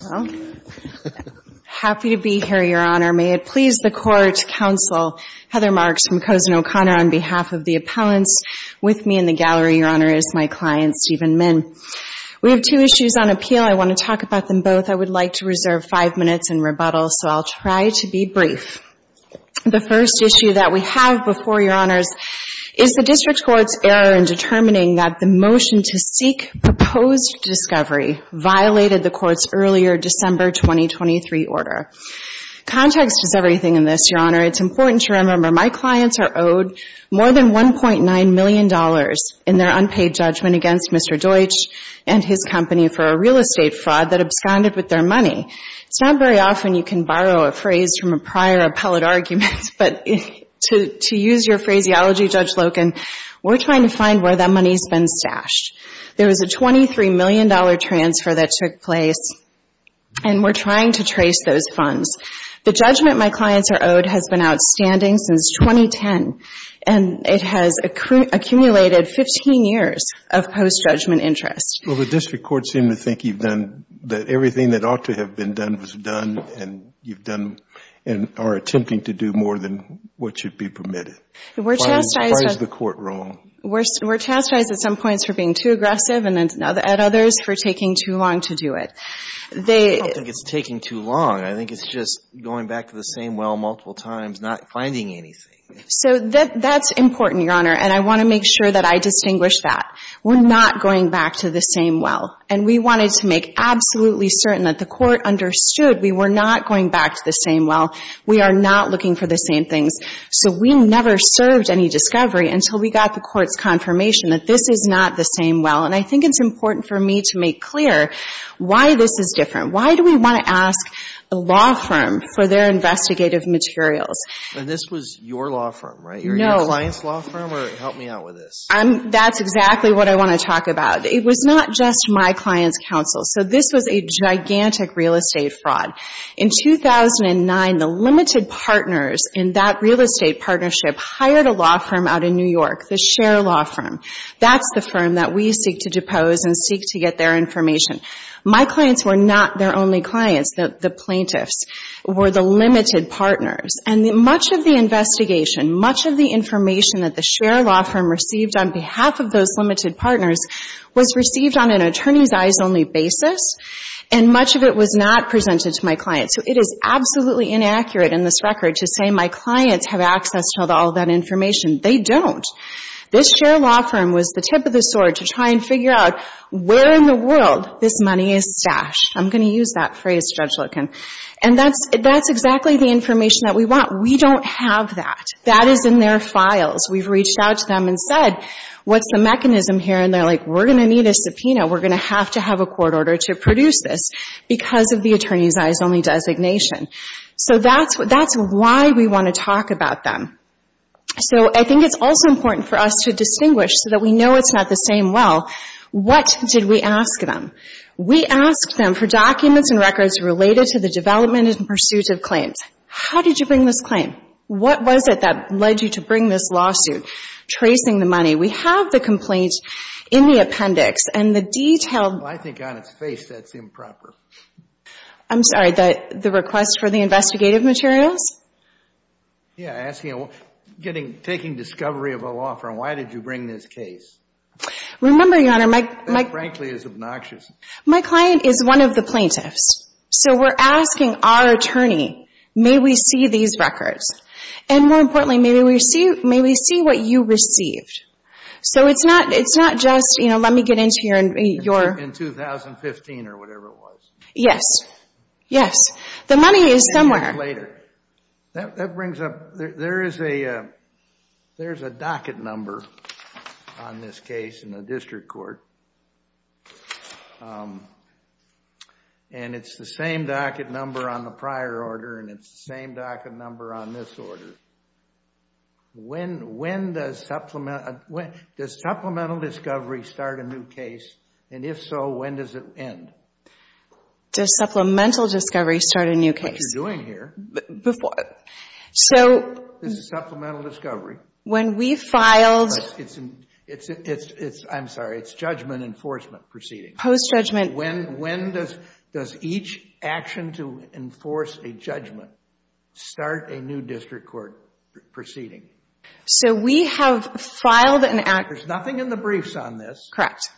Well, happy to be here, Your Honor. May it please the Court, Counsel Heather Marks from Cozen O'Connor on behalf of the appellants with me in the gallery, Your Honor, is my client Stephen Min. We have two issues on appeal. I want to talk about them both. I would like to reserve five minutes in rebuttal, so I'll try to be brief. The first issue that we have before Your Honors is the District Court's error in determining that the motion to seek proposed discovery violated the Court's earlier December 2023 order. Context is everything in this, Your Honor. It's important to remember my clients are owed more than $1.9 million in their unpaid judgment against Mr. Deutsch and his company for a real estate fraud that absconded with their money. It's not very often you can borrow a phrase from a prior appellate argument, but to use your phraseology, Judge Loken, we're trying to find where that money's been stashed. There was a $23 million transfer that took place, and we're trying to trace those funds. The judgment my clients are owed has been outstanding since 2010, and it has accumulated 15 years of post-judgment interest. Judge McNeil Well, the District Court seemed to think you've done, that everything that ought to have been done was done, and you've done, and are attempting to do more than what should be permitted. Why is the Court wrong? We're chastised at some points for being too aggressive and at others for taking too long to do it. I don't think it's taking too long. I think it's just going back to the same well multiple times, not finding anything. So that's important, Your Honor, and I want to make sure that I distinguish that. We're not going back to the same well, and we wanted to make absolutely certain that the Court understood we were not going back to the same well. We are not looking for the same things. So we never served any discovery until we got the Court's confirmation that this is not the same well, and I think it's important for me to make clear why this is different. Why do we want to ask a law firm for their investigative materials? And this was your law firm, right? No. Your client's law firm, or help me out with this. That's exactly what I want to talk about. It was not just my client's counsel. So this was a gigantic real estate fraud. In 2009, the limited partners in that real estate partnership hired a law firm out in New York, the Sher Law Firm. That's the firm that we seek to depose and seek to get their information. My clients were not their only clients. The plaintiffs were the limited partners, and much of the investigation, much of the information that the Sher Law Firm received on behalf of those limited partners was received on an attorney's eyes only basis, and much of it was not presented to my clients. So it is absolutely inaccurate in this record to say my clients have access to all of that information. They don't. This Sher Law Firm was the tip of the sword to try and figure out where in the world this money is stashed. I'm going to use that phrase, Judge Loken. And that's exactly the information that we want. We don't have that. That is in their files. We've reached out to them and said, what's the mechanism here? And they're like, we're going to need a subpoena. We're going to have to have a court order to produce this because of the attorney's eyes only designation. So that's why we want to talk about them. So I think it's also important for us to distinguish so that we know it's not the same well. What did we ask them? We asked them for documents and records related to the development and pursuit of claims. How did you bring this in? What was it that led you to bring this lawsuit? Tracing the money. We have the complaint in the appendix and the detailed... I think on its face that's improper. I'm sorry, the request for the investigative materials? Yeah, asking, taking discovery of a law firm. Why did you bring this case? Remember, Your Honor, my... That frankly is obnoxious. My client is one of the plaintiffs. So we're asking our attorney, may we see these records? And more importantly, may we see what you received? So it's not just, you know, let me get into your... In 2015 or whatever it was. Yes. Yes. The money is somewhere. Maybe later. That brings up... There's a docket number on this case in the district court. And it's the same docket number on the prior order. And it's the same docket number on this order. When does supplemental discovery start a new case? And if so, when does it end? Does supplemental discovery start a new case? Which you're doing here. Before. So... This is supplemental discovery. When we filed... It's... I'm sorry. It's judgment enforcement proceedings. Post-judgment... When does each action to enforce a judgment start a new district court proceeding? So we have filed an act... There's nothing in the briefs on this. Correct.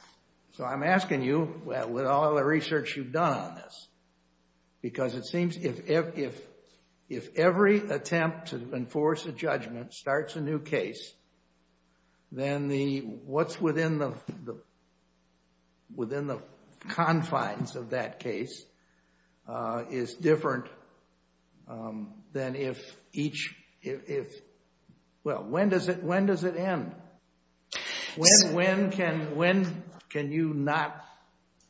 So I'm asking you, with all the research you've done on this, because it seems if every attempt to enforce a judgment starts a new case, then what's within the confines of that case is different than if each... Well, when does it end? When can you not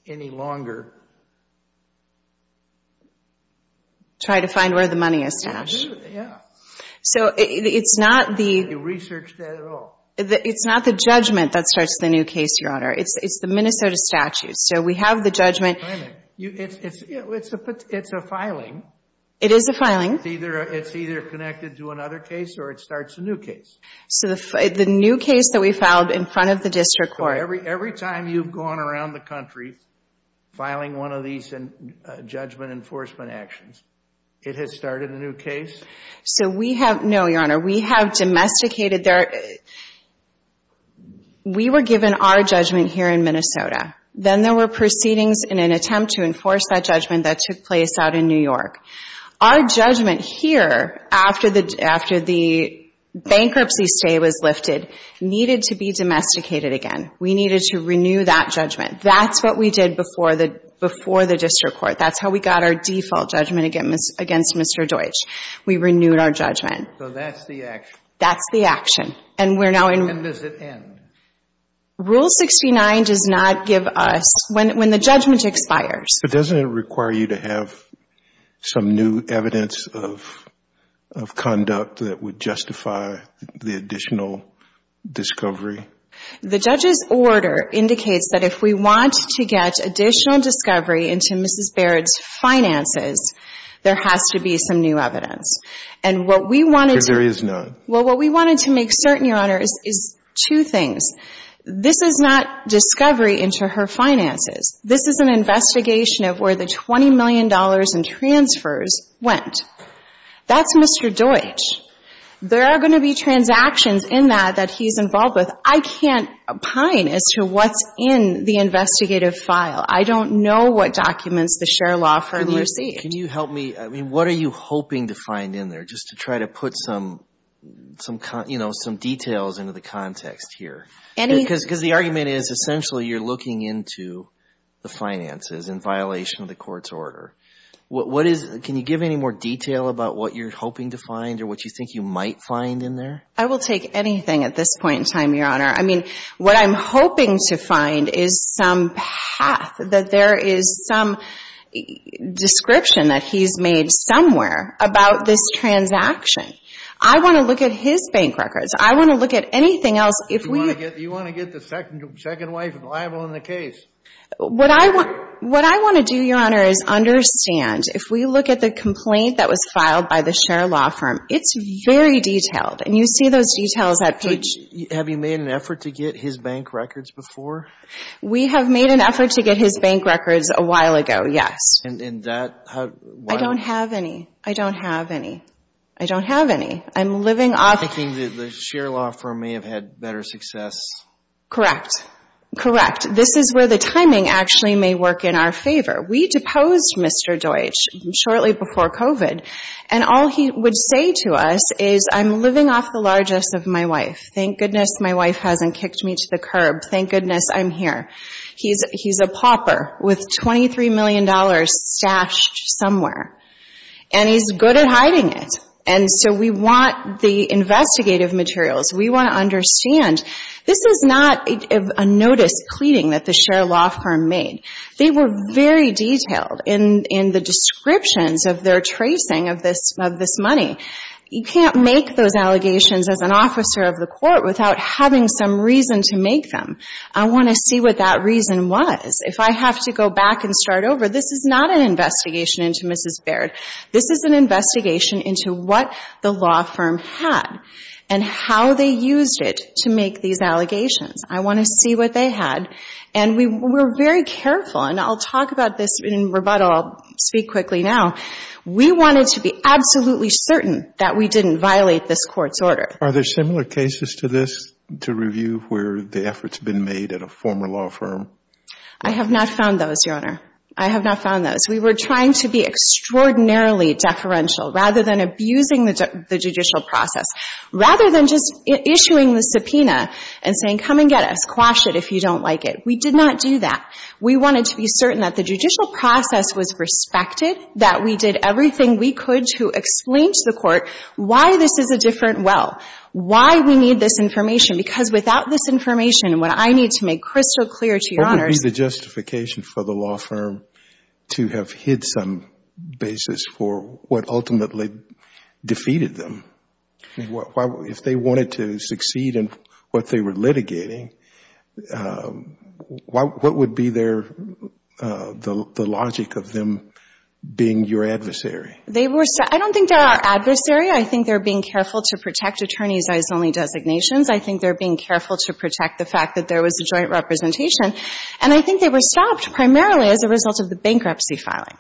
any longer... Try to find where the money is stashed. Yeah. So it's not the... You researched that at all. It's not the judgment that starts the new case, Your Honor. It's the Minnesota statute. So we have the judgment... It's a filing. It is a filing. It's either connected to another case or it starts a new case. So the new case that we filed in front of the district court... So every time you've gone around the country filing one of these judgment enforcement actions, it has started a new case? So we have... No, Your Honor. We have domesticated... We were given our judgment here in Minnesota. Then there were proceedings in an attempt to enforce that judgment that took place out in New York. Our judgment here, after the bankruptcy stay was lifted, needed to be domesticated again. We needed to renew that judgment. That's what we did before the district court. That's how we got our default judgment against Mr. Deutsch. We renewed our judgment. So that's the action? That's the action. And does it end? Rule 69 does not give us, when the judgment expires... But doesn't it require you to have some new evidence of conduct that would justify the additional discovery? The judge's order indicates that if we want to get additional discovery into Mrs. Barrett's finances, there has to be some new evidence. And what we wanted to... Because there is none. Well, what we wanted to make certain, Your Honor, is two things. This is not discovery into her finances. This is an investigation of where the $20 million in transfers went. That's Mr. Deutsch. There are going to be transactions in that that he's involved with. I can't opine as to what's in the investigative file. I don't know what documents the share law firm received. Can you help me? I mean, what are you hoping to find in there, just to try to put some details into the context here? Because the argument is, essentially, you're looking into the finances in violation of the court's order. Can you give any more detail about what you're hoping to find or what you think you might find in there? I will take anything at this point in time, Your Honor. I mean, what I'm hoping to find is some path, that there is some description that he's made somewhere about this transaction. I want to look at his bank records. I want to look at anything else. You want to get the second wife liable in the case. What I want to do, Your Honor, is understand. If we look at the complaint that was filed by the share law firm, it's very detailed. And you see those details at page – Have you made an effort to get his bank records before? We have made an effort to get his bank records a while ago, yes. And that – I don't have any. I don't have any. I don't have any. I'm living off – I'm thinking that the share law firm may have had better success. Correct. Correct. And this is where the timing actually may work in our favor. We deposed Mr. Deutsch shortly before COVID. And all he would say to us is, I'm living off the largest of my wife. Thank goodness my wife hasn't kicked me to the curb. Thank goodness I'm here. He's a pauper with $23 million stashed somewhere. And he's good at hiding it. And so we want the investigative materials. We want to understand this is not a notice pleading that the share law firm made. They were very detailed in the descriptions of their tracing of this money. You can't make those allegations as an officer of the court without having some reason to make them. I want to see what that reason was. If I have to go back and start over, this is not an investigation into Mrs. Baird. This is an investigation into what the law firm had and how they used it to make these allegations. I want to see what they had. And we were very careful. And I'll talk about this in rebuttal. I'll speak quickly now. We wanted to be absolutely certain that we didn't violate this court's order. Are there similar cases to this to review where the efforts have been made at a former law firm? I have not found those, Your Honor. I have not found those. We were trying to be extraordinarily deferential rather than abusing the judicial process, rather than just issuing the subpoena and saying, come and get us, quash it if you don't like it. We did not do that. We wanted to be certain that the judicial process was respected, that we did everything we could to explain to the court why this is a different well, why we need this information, because without this information, what I need to make crystal clear to you, Your Honor, is— Is there a justification for the law firm to have hid some basis for what ultimately defeated them? If they wanted to succeed in what they were litigating, what would be the logic of them being your adversary? I don't think they're our adversary. I think they're being careful to protect attorneys' eyes-only designations. I think they're being careful to protect the fact that there was a joint representation. And I think they were stopped primarily as a result of the bankruptcy filing.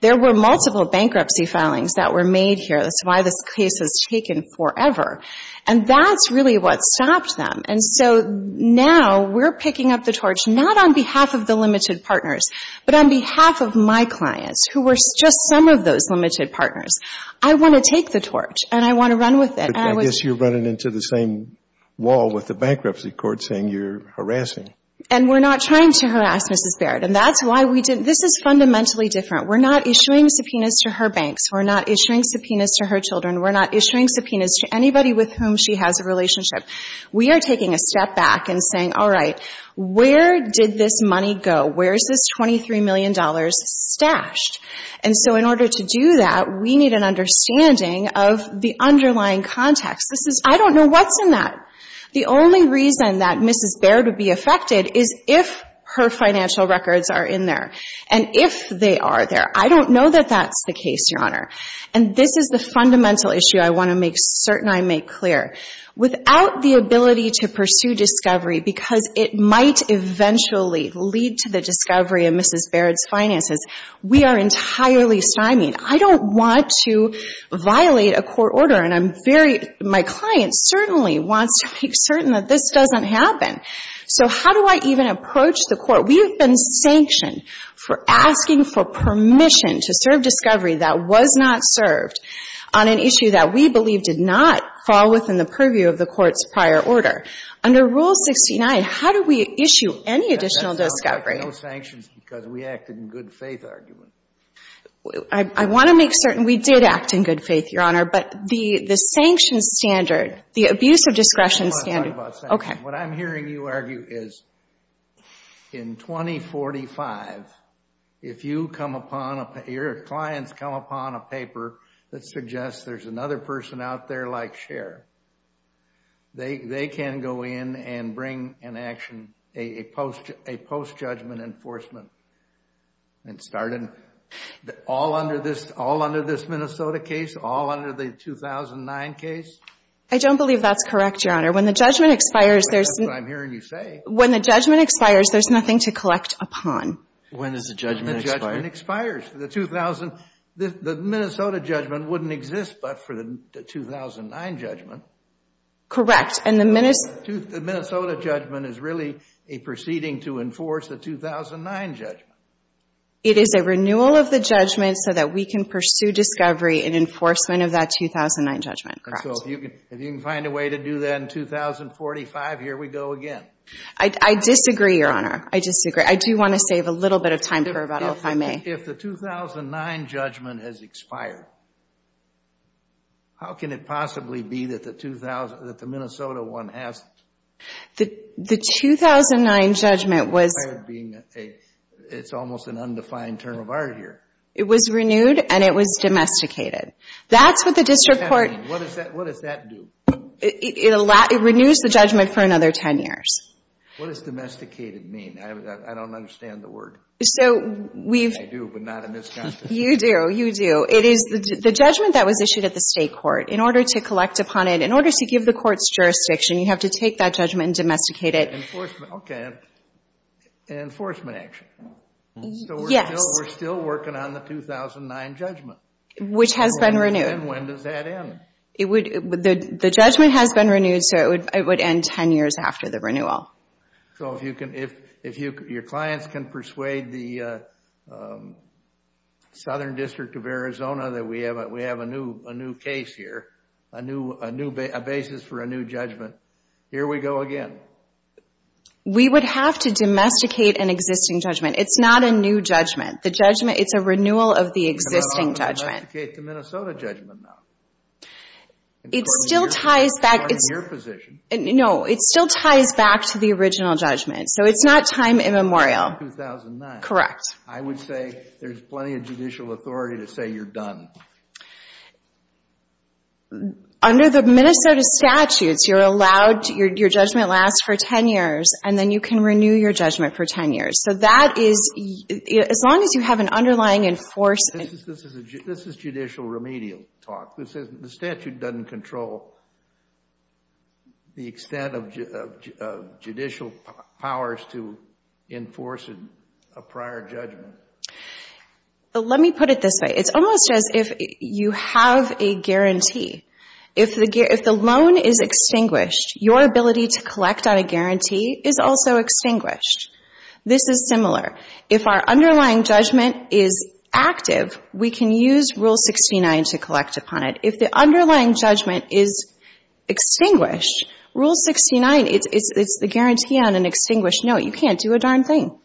There were multiple bankruptcy filings that were made here. That's why this case was taken forever. And that's really what stopped them. And so now we're picking up the torch not on behalf of the limited partners, but on behalf of my clients who were just some of those limited partners. I want to take the torch, and I want to run with it. But I guess you're running into the same wall with the bankruptcy court saying you're harassing. And we're not trying to harass Mrs. Baird. And that's why we did — this is fundamentally different. We're not issuing subpoenas to her banks. We're not issuing subpoenas to her children. We're not issuing subpoenas to anybody with whom she has a relationship. We are taking a step back and saying, all right, where did this money go? Where is this $23 million stashed? And so in order to do that, we need an understanding of the underlying context. This is — I don't know what's in that. The only reason that Mrs. Baird would be affected is if her financial records are in there, and if they are there. I don't know that that's the case, Your Honor. And this is the fundamental issue I want to make certain I make clear. Without the ability to pursue discovery, because it might eventually lead to the discovery of Mrs. Baird's finances, we are entirely stymied. I don't want to violate a court order. And I'm very — my client certainly wants to make certain that this doesn't happen. So how do I even approach the court? We have been sanctioned for asking for permission to serve discovery that was not served on an issue that we believe did not fall within the purview of the court's prior order. Under Rule 69, how do we issue any additional discovery? Because we acted in good faith argument. I want to make certain we did act in good faith, Your Honor. But the sanctions standard, the abuse of discretion standard — I don't want to talk about sanctions. What I'm hearing you argue is in 2045, if you come upon a — your clients come upon a paper that suggests there's another person out there like Cher, they can go in and bring an action, a post-judgment enforcement, and start an — all under this Minnesota case? All under the 2009 case? I don't believe that's correct, Your Honor. When the judgment expires, there's — That's what I'm hearing you say. When the judgment expires, there's nothing to collect upon. When does the judgment expire? When the judgment expires. The Minnesota judgment wouldn't exist but for the 2009 judgment. Correct. And the Minnesota — The Minnesota judgment is really a proceeding to enforce the 2009 judgment. It is a renewal of the judgment so that we can pursue discovery and enforcement of that 2009 judgment. Correct. And so if you can find a way to do that in 2045, here we go again. I disagree, Your Honor. I disagree. I do want to save a little bit of time for rebuttal, if I may. If the 2009 judgment has expired, how can it possibly be that the Minnesota one hasn't? The 2009 judgment was — Expired being a — it's almost an undefined term of art here. It was renewed and it was domesticated. That's what the district court — What does that mean? What does that do? It renews the judgment for another 10 years. What does domesticated mean? I don't understand the word. So we've — I do, but not in this context. You do. You do. It is the judgment that was issued at the state court. In order to collect upon it, in order to give the court's jurisdiction, you have to take that judgment and domesticate it. Enforcement. Okay. Enforcement action. Yes. So we're still working on the 2009 judgment. Which has been renewed. And when does that end? It would — the judgment has been renewed so it would end 10 years after the renewal. So if you can — if your clients can persuade the Southern District of Arizona that we have a new case here, a new basis for a new judgment, here we go again. We would have to domesticate an existing judgment. It's not a new judgment. The judgment — it's a renewal of the existing judgment. How about we domesticate the Minnesota judgment now? It still ties back — According to your position. No. It still ties back to the original judgment. So it's not time immemorial. 2009. Correct. I would say there's plenty of judicial authority to say you're done. Under the Minnesota statutes, you're allowed — your judgment lasts for 10 years, and then you can renew your judgment for 10 years. So that is — as long as you have an underlying enforcement — This is judicial remedial talk. The statute doesn't control the extent of judicial powers to enforce a prior judgment. Let me put it this way. It's almost as if you have a guarantee. If the loan is extinguished, your ability to collect on a guarantee is also extinguished. This is similar. If our underlying judgment is active, we can use Rule 69 to collect upon it. If the underlying judgment is extinguished, Rule 69 — it's the guarantee on an extinguished note. You can't do a darn thing.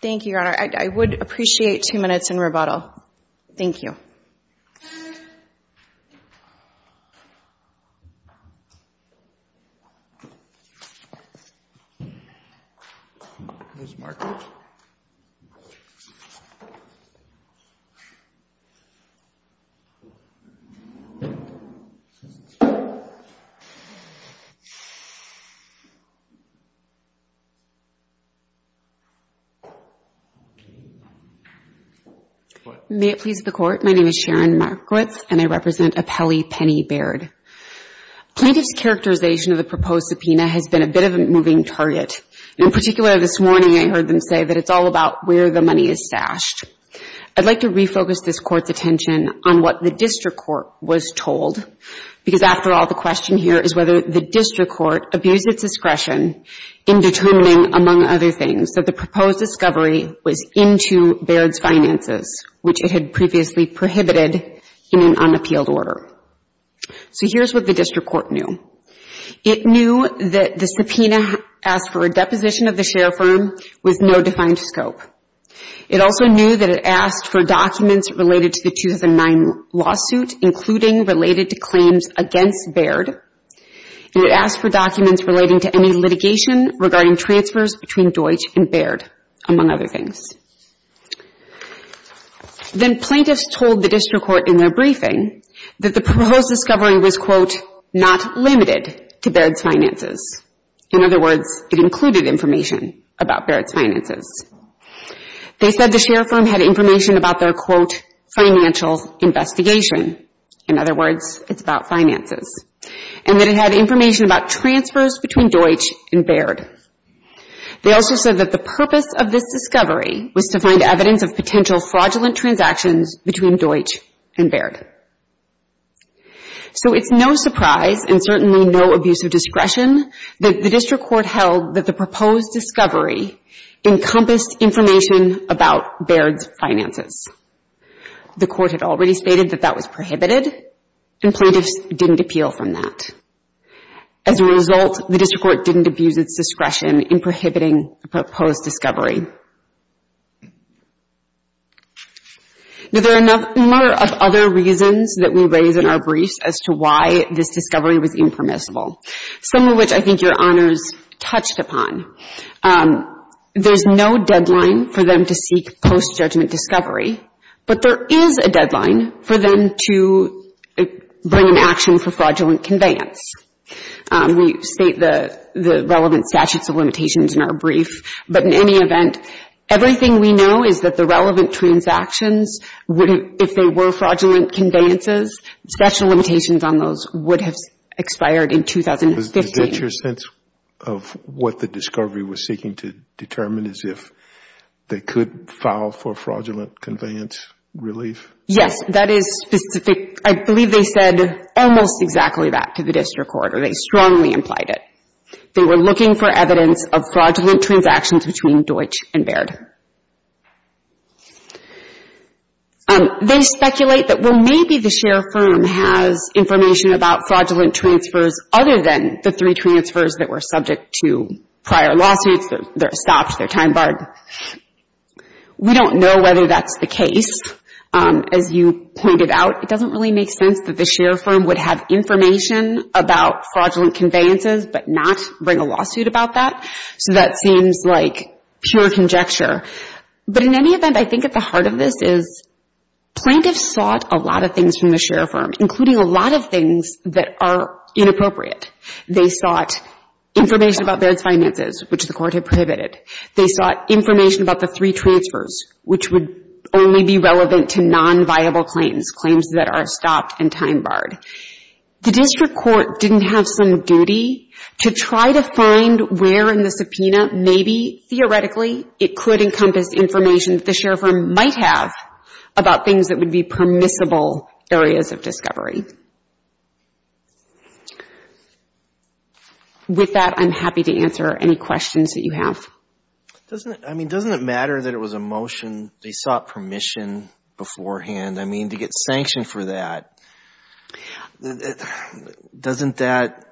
Thank you, Your Honor. I would appreciate two minutes in rebuttal. Thank you. Ms. Markowitz. May it please the Court, my name is Sharon Markowitz, and I represent Apelli Penny Baird. Plaintiff's characterization of the proposed subpoena has been a bit of a moving target. In particular, this morning I heard them say that it's all about where the money is stashed. I'd like to refocus this Court's attention on what the district court was told, because after all, the question here is whether the district court abused its discretion in determining, among other things, that the proposed discovery was into Baird's finances, which it had previously prohibited in an unappealed order. So here's what the district court knew. It knew that the subpoena asked for a deposition of the share firm with no defined scope. It also knew that it asked for documents related to the 2009 lawsuit, including related to claims against Baird. It asked for documents relating to any litigation regarding transfers between Deutsch and Baird, among other things. Then plaintiffs told the district court in their briefing that the proposed discovery was, quote, not limited to Baird's finances. In other words, it included information about Baird's finances. They said the share firm had information about their, quote, financial investigation. In other words, it's about finances. And that it had information about transfers between Deutsch and Baird. They also said that the purpose of this discovery was to find evidence of potential fraudulent transactions between Deutsch and Baird. So it's no surprise, and certainly no abuse of discretion, that the district court held that the proposed discovery encompassed information about Baird's finances. The court had already stated that that was prohibited, and plaintiffs didn't appeal from that. As a result, the district court didn't abuse its discretion in prohibiting the proposed discovery. Now, there are a number of other reasons that we raise in our briefs as to why this discovery was impermissible. Some of which I think Your Honors touched upon. There's no deadline for them to seek post-judgment discovery, but there is a deadline for them to bring an action for fraudulent conveyance. We state the relevant statutes of limitations in our brief, but in any event, everything we know is that the relevant transactions, if they were fraudulent conveyances, special limitations on those would have expired in 2015. Is that your sense of what the discovery was seeking to determine, as if they could file for fraudulent conveyance relief? Yes, that is specific. I believe they said almost exactly that to the district court, or they strongly implied it. They were looking for evidence of fraudulent transactions between Deutsch and Baird. They speculate that, well, maybe the share firm has information about fraudulent transfers other than the three transfers that were subject to prior lawsuits. They're stopped, they're time barred. We don't know whether that's the case. As you pointed out, it doesn't really make sense that the share firm would have information about fraudulent conveyances, but not bring a lawsuit about that. So that seems like pure conjecture. But in any event, I think at the heart of this is, plaintiffs sought a lot of things from the share firm, including a lot of things that are inappropriate. They sought information about Baird's finances, which the court had prohibited. They sought information about the three transfers, which would only be relevant to non-viable claims, claims that are stopped and time barred. The district court didn't have some duty to try to find where in the subpoena, maybe theoretically, it could encompass information that the share firm might have about things that would be permissible areas of discovery. With that, I'm happy to answer any questions that you have. Doesn't it matter that it was a motion? They sought permission beforehand. I mean, to get sanctioned for that, doesn't that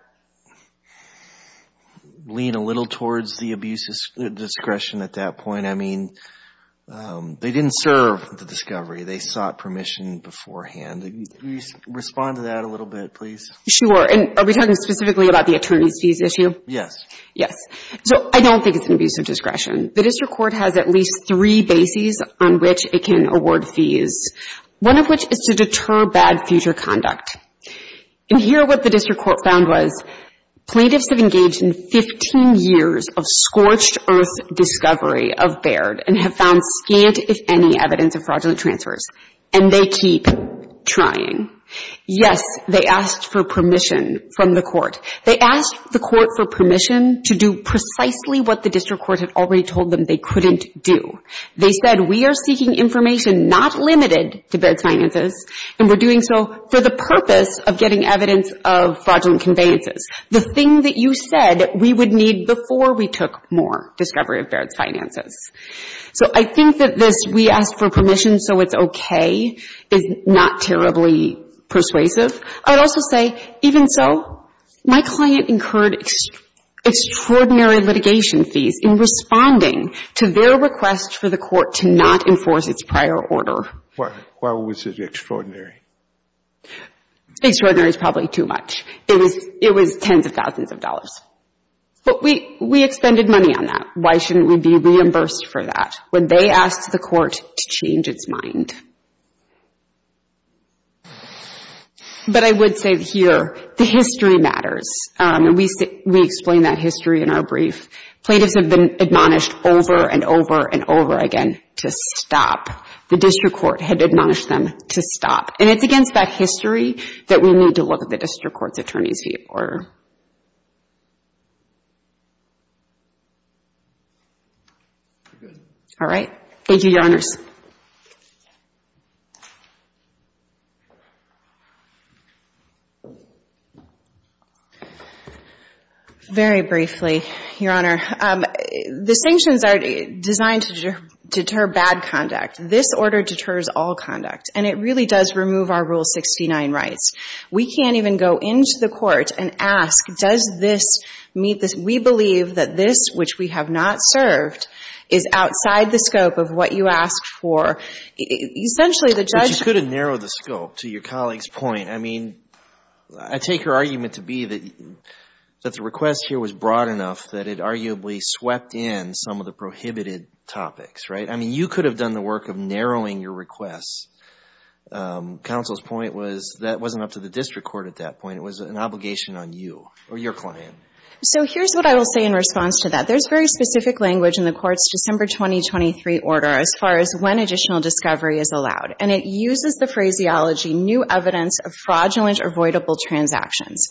lean a little towards the abuse of discretion at that point? I mean, they didn't serve the discovery. They sought permission beforehand. Could you respond to that a little bit, please? Sure. And are we talking specifically about the attorney's fees issue? Yes. Yes. So I don't think it's an abuse of discretion. The district court has at least three bases on which it can award fees, one of which is to deter bad future conduct. And here what the district court found was plaintiffs have engaged in 15 years of scorched earth discovery of Baird and have found scant, if any, evidence of fraudulent transfers, and they keep trying. Yes, they asked for permission from the court. They asked the court for permission to do precisely what the district court had already told them they couldn't do. They said we are seeking information not limited to Baird's finances, and we're doing so for the purpose of getting evidence of fraudulent conveyances, the thing that you said we would need before we took more discovery of Baird's finances. So I think that this we asked for permission so it's okay is not terribly persuasive. I would also say even so, my client incurred extraordinary litigation fees in responding to their request for the court to not enforce its prior order. Why was it extraordinary? Extraordinary is probably too much. It was tens of thousands of dollars. But we expended money on that. Why shouldn't we be reimbursed for that when they asked the court to change its mind? But I would say here, the history matters. And we explain that history in our brief. Plaintiffs have been admonished over and over and over again to stop. The district court had admonished them to stop. And it's against that history that we need to look at the district court's attorney's fee order. All right. Thank you, Your Honors. Very briefly, Your Honor. The sanctions are designed to deter bad conduct. This order deters all conduct. And it really does remove our Rule 69 rights. We can't even go into the court and ask, does this meet this? We believe that this, which we have not served, is outside the scope of what you asked for. But you could have narrowed the scope, to your colleague's point. I mean, I take her argument to be that the request here was broad enough that it arguably swept in some of the prohibited topics, right? I mean, you could have done the work of narrowing your requests. Counsel's point was that wasn't up to the district court at that point. It was an obligation on you or your client. So here's what I will say in response to that. There's very specific language in the court's December 2023 order as far as when additional discovery is allowed. And it uses the phraseology, new evidence of fraudulent avoidable transactions,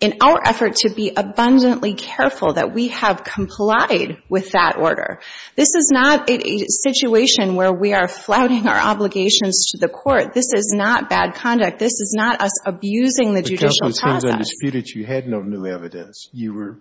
in our effort to be abundantly careful that we have complied with that order. This is not a situation where we are flouting our obligations to the court. This is not bad conduct. This is not us abusing the judicial process. But, Counsel, it seems undisputed that you had no new evidence. You were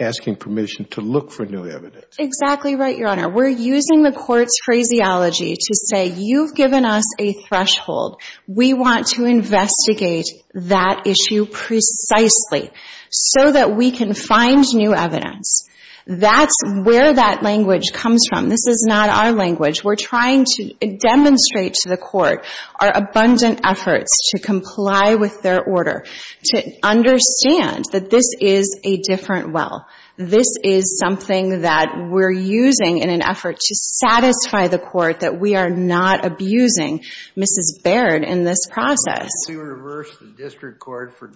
asking permission to look for new evidence. Exactly right, Your Honor. We're using the court's phraseology to say you've given us a threshold. We want to investigate that issue precisely so that we can find new evidence. That's where that language comes from. This is not our language. We're trying to demonstrate to the court our abundant efforts to comply with their order, to understand that this is a different well. This is something that we're using in an effort to satisfy the court that we are not abusing Mrs. Baird in this process. Why did you reverse the district court for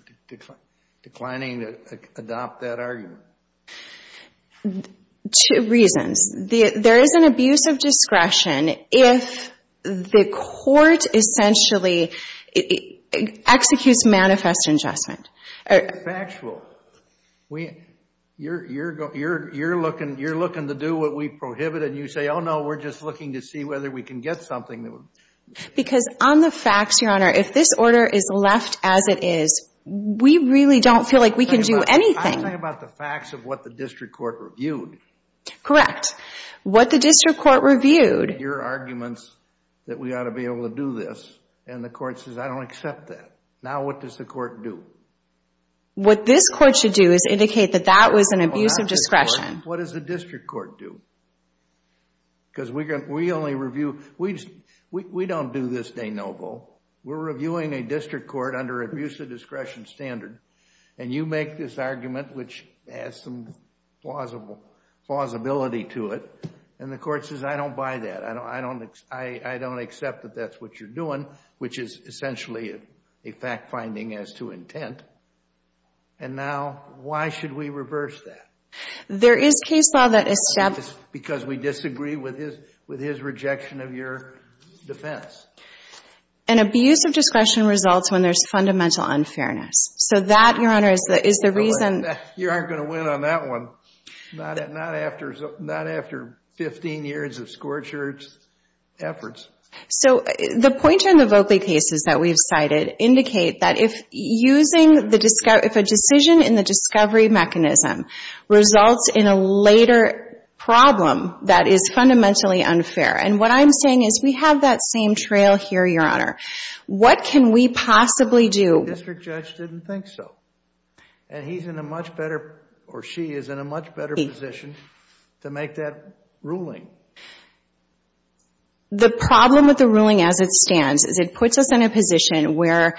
declining to adopt that argument? Two reasons. There is an abuse of discretion if the court essentially executes manifest ingestment. It's factual. You're looking to do what we prohibited, and you say, oh, no, we're just looking to see whether we can get something. Because on the facts, Your Honor, if this order is left as it is, we really don't feel like we can do anything. I'm talking about the facts of what the district court reviewed. Correct. What the district court reviewed. Your argument is that we ought to be able to do this, and the court says, I don't accept that. Now what does the court do? What this court should do is indicate that that was an abuse of discretion. What does the district court do? Because we only review. We don't do this, De Novo. We're reviewing a district court under abuse of discretion standard, and you make this argument which has some plausibility to it, and the court says, I don't buy that. I don't accept that that's what you're doing, which is essentially a fact finding as to intent. And now why should we reverse that? There is case law that establishes. Because we disagree with his rejection of your defense. An abuse of discretion results when there's fundamental unfairness. So that, Your Honor, is the reason. You aren't going to win on that one. Not after 15 years of scorched earth efforts. So the pointer in the Voegli cases that we've cited indicate that if a decision in the discovery mechanism results in a later problem that is fundamentally unfair. And what I'm saying is we have that same trail here, Your Honor. What can we possibly do? The district judge didn't think so. And he's in a much better, or she is in a much better position to make that ruling. The problem with the ruling as it stands is it puts us in a position where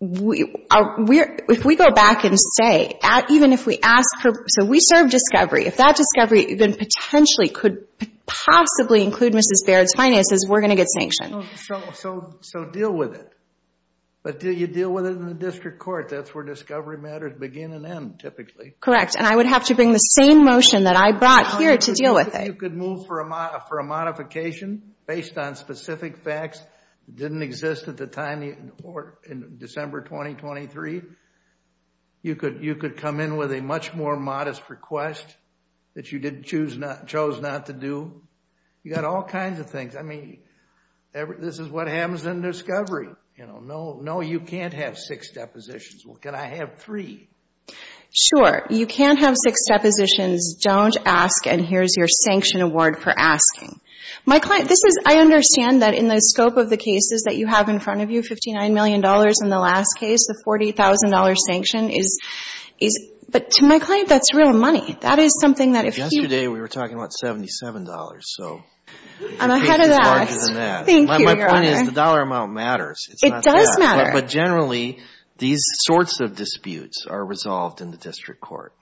if we go back and say, even if we ask for, so we serve discovery. If that discovery then potentially could possibly include Mrs. Baird's finances, we're going to get sanctioned. So deal with it. But do you deal with it in the district court? That's where discovery matters begin and end typically. And I would have to bring the same motion that I brought here to deal with it. You could move for a modification based on specific facts that didn't exist at the time in December 2023. You could come in with a much more modest request that you chose not to do. You've got all kinds of things. I mean, this is what happens in discovery. No, you can't have six depositions. Well, can I have three? Sure. You can't have six depositions. Don't ask, and here's your sanction award for asking. My client, this is, I understand that in the scope of the cases that you have in front of you, $59 million in the last case, the $40,000 sanction is, but to my client, that's real money. That is something that if he... Yesterday we were talking about $77, so... I'm ahead of that. It's larger than that. Thank you, Your Honor. My point is the dollar amount matters. It does matter. But generally, these sorts of disputes are resolved in the district court.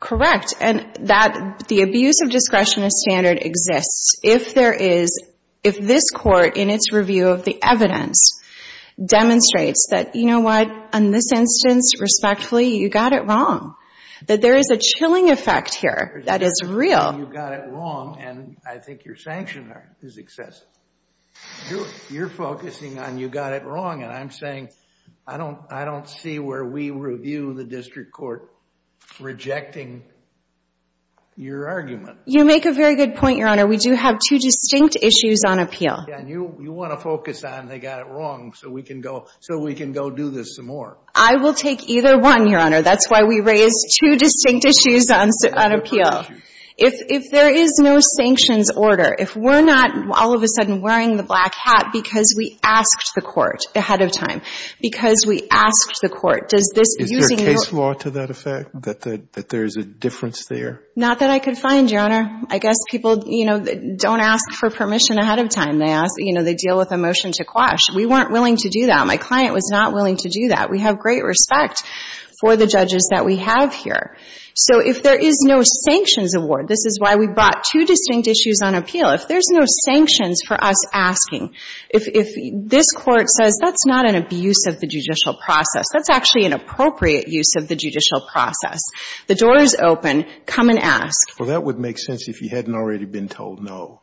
Correct. And the abuse of discretion as standard exists if there is, if this court in its review of the evidence demonstrates that, you know what, in this instance, respectfully, you got it wrong, that there is a chilling effect here that is real. You're saying you got it wrong, and I think your sanction is excessive. You're focusing on you got it wrong, and I'm saying, I don't see where we review the district court rejecting your argument. You make a very good point, Your Honor. We do have two distinct issues on appeal. Yeah, and you want to focus on they got it wrong so we can go do this some more. I will take either one, Your Honor. That's why we raised two distinct issues on appeal. If there is no sanctions order, if we're not all of a sudden wearing the black hat because we asked the court ahead of time, because we asked the court, does this using your – Is there case law to that effect, that there is a difference there? Not that I could find, Your Honor. I guess people, you know, don't ask for permission ahead of time. They ask, you know, they deal with a motion to quash. We weren't willing to do that. My client was not willing to do that. We have great respect for the judges that we have here. So if there is no sanctions award, this is why we brought two distinct issues on appeal. If there's no sanctions for us asking, if this Court says that's not an abuse of the judicial process, that's actually an appropriate use of the judicial process. The door is open. Come and ask. Well, that would make sense if you hadn't already been told no.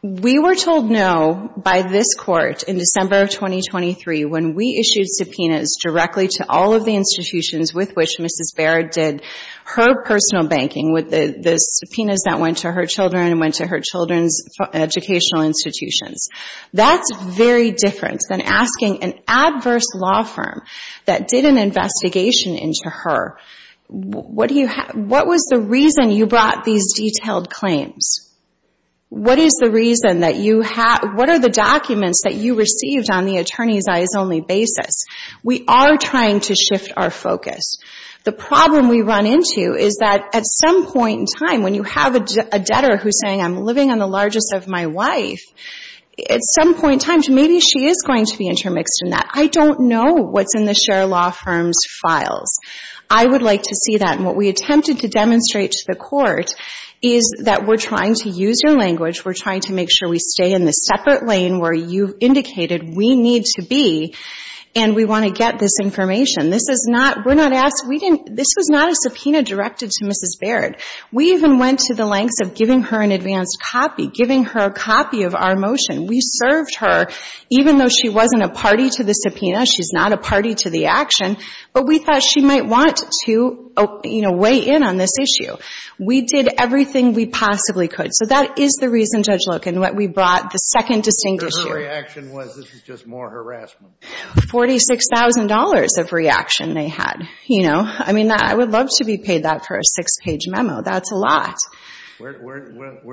We were told no by this Court in December of 2023 when we issued subpoenas directly to all of the institutions with which Mrs. Barrett did her personal banking with the subpoenas that went to her children and went to her children's educational institutions. That's very different than asking an adverse law firm that did an investigation into her, what was the reason you brought these detailed claims? What is the reason that you – What are the documents that you received on the attorney's eyes only basis? We are trying to shift our focus. The problem we run into is that at some point in time, when you have a debtor who's saying, I'm living on the largest of my wife, at some point in time, maybe she is going to be intermixed in that. I don't know what's in the share law firm's files. I would like to see that. And what we attempted to demonstrate to the Court is that we're trying to use your language, we're trying to make sure we stay in the separate lane where you indicated we need to be, and we want to get this information. This is not – we're not asking – we didn't – this was not a subpoena directed to Mrs. Barrett. We even went to the lengths of giving her an advanced copy, giving her a copy of our motion. We served her, even though she wasn't a party to the subpoena, she's not a party to the action, but we thought she might want to, you know, weigh in on this issue. We did everything we possibly could. So that is the reason, Judge Loken, why we brought the second distinct issue. The reaction was this is just more harassment. $46,000 of reaction they had, you know. I mean, I would love to be paid that for a six-page memo. That's a lot. Where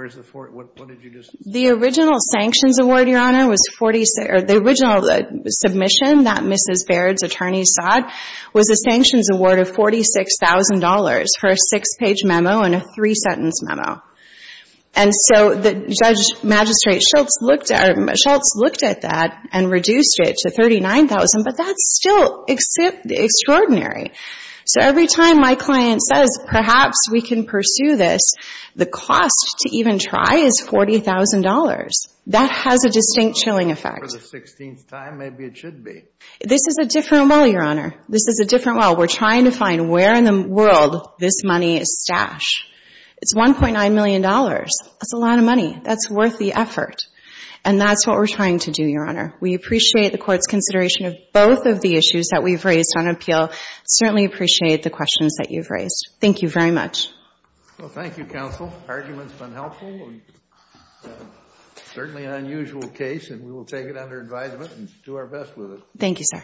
is the – what did you just say? The original sanctions award, Your Honor, was – the original submission that Mrs. Barrett's attorney sought was a sanctions award of $46,000 for a six-page memo and a three-sentence memo. And so the judge magistrate Schultz looked at – Schultz looked at that and reduced it to $39,000, but that's still extraordinary. So every time my client says perhaps we can pursue this, the cost to even try is $40,000. That has a distinct chilling effect. For the 16th time, maybe it should be. This is a different well, Your Honor. This is a different well. We're trying to find where in the world this money is stashed. It's $1.9 million. That's a lot of money. That's worth the effort. And that's what we're trying to do, Your Honor. We appreciate the Court's consideration of both of the issues that we've raised on appeal. Certainly appreciate the questions that you've raised. Thank you very much. Well, thank you, counsel. Argument's been helpful. Certainly an unusual case, and we will take it under advisement and do our best with it. Thank you, sir. Thank you.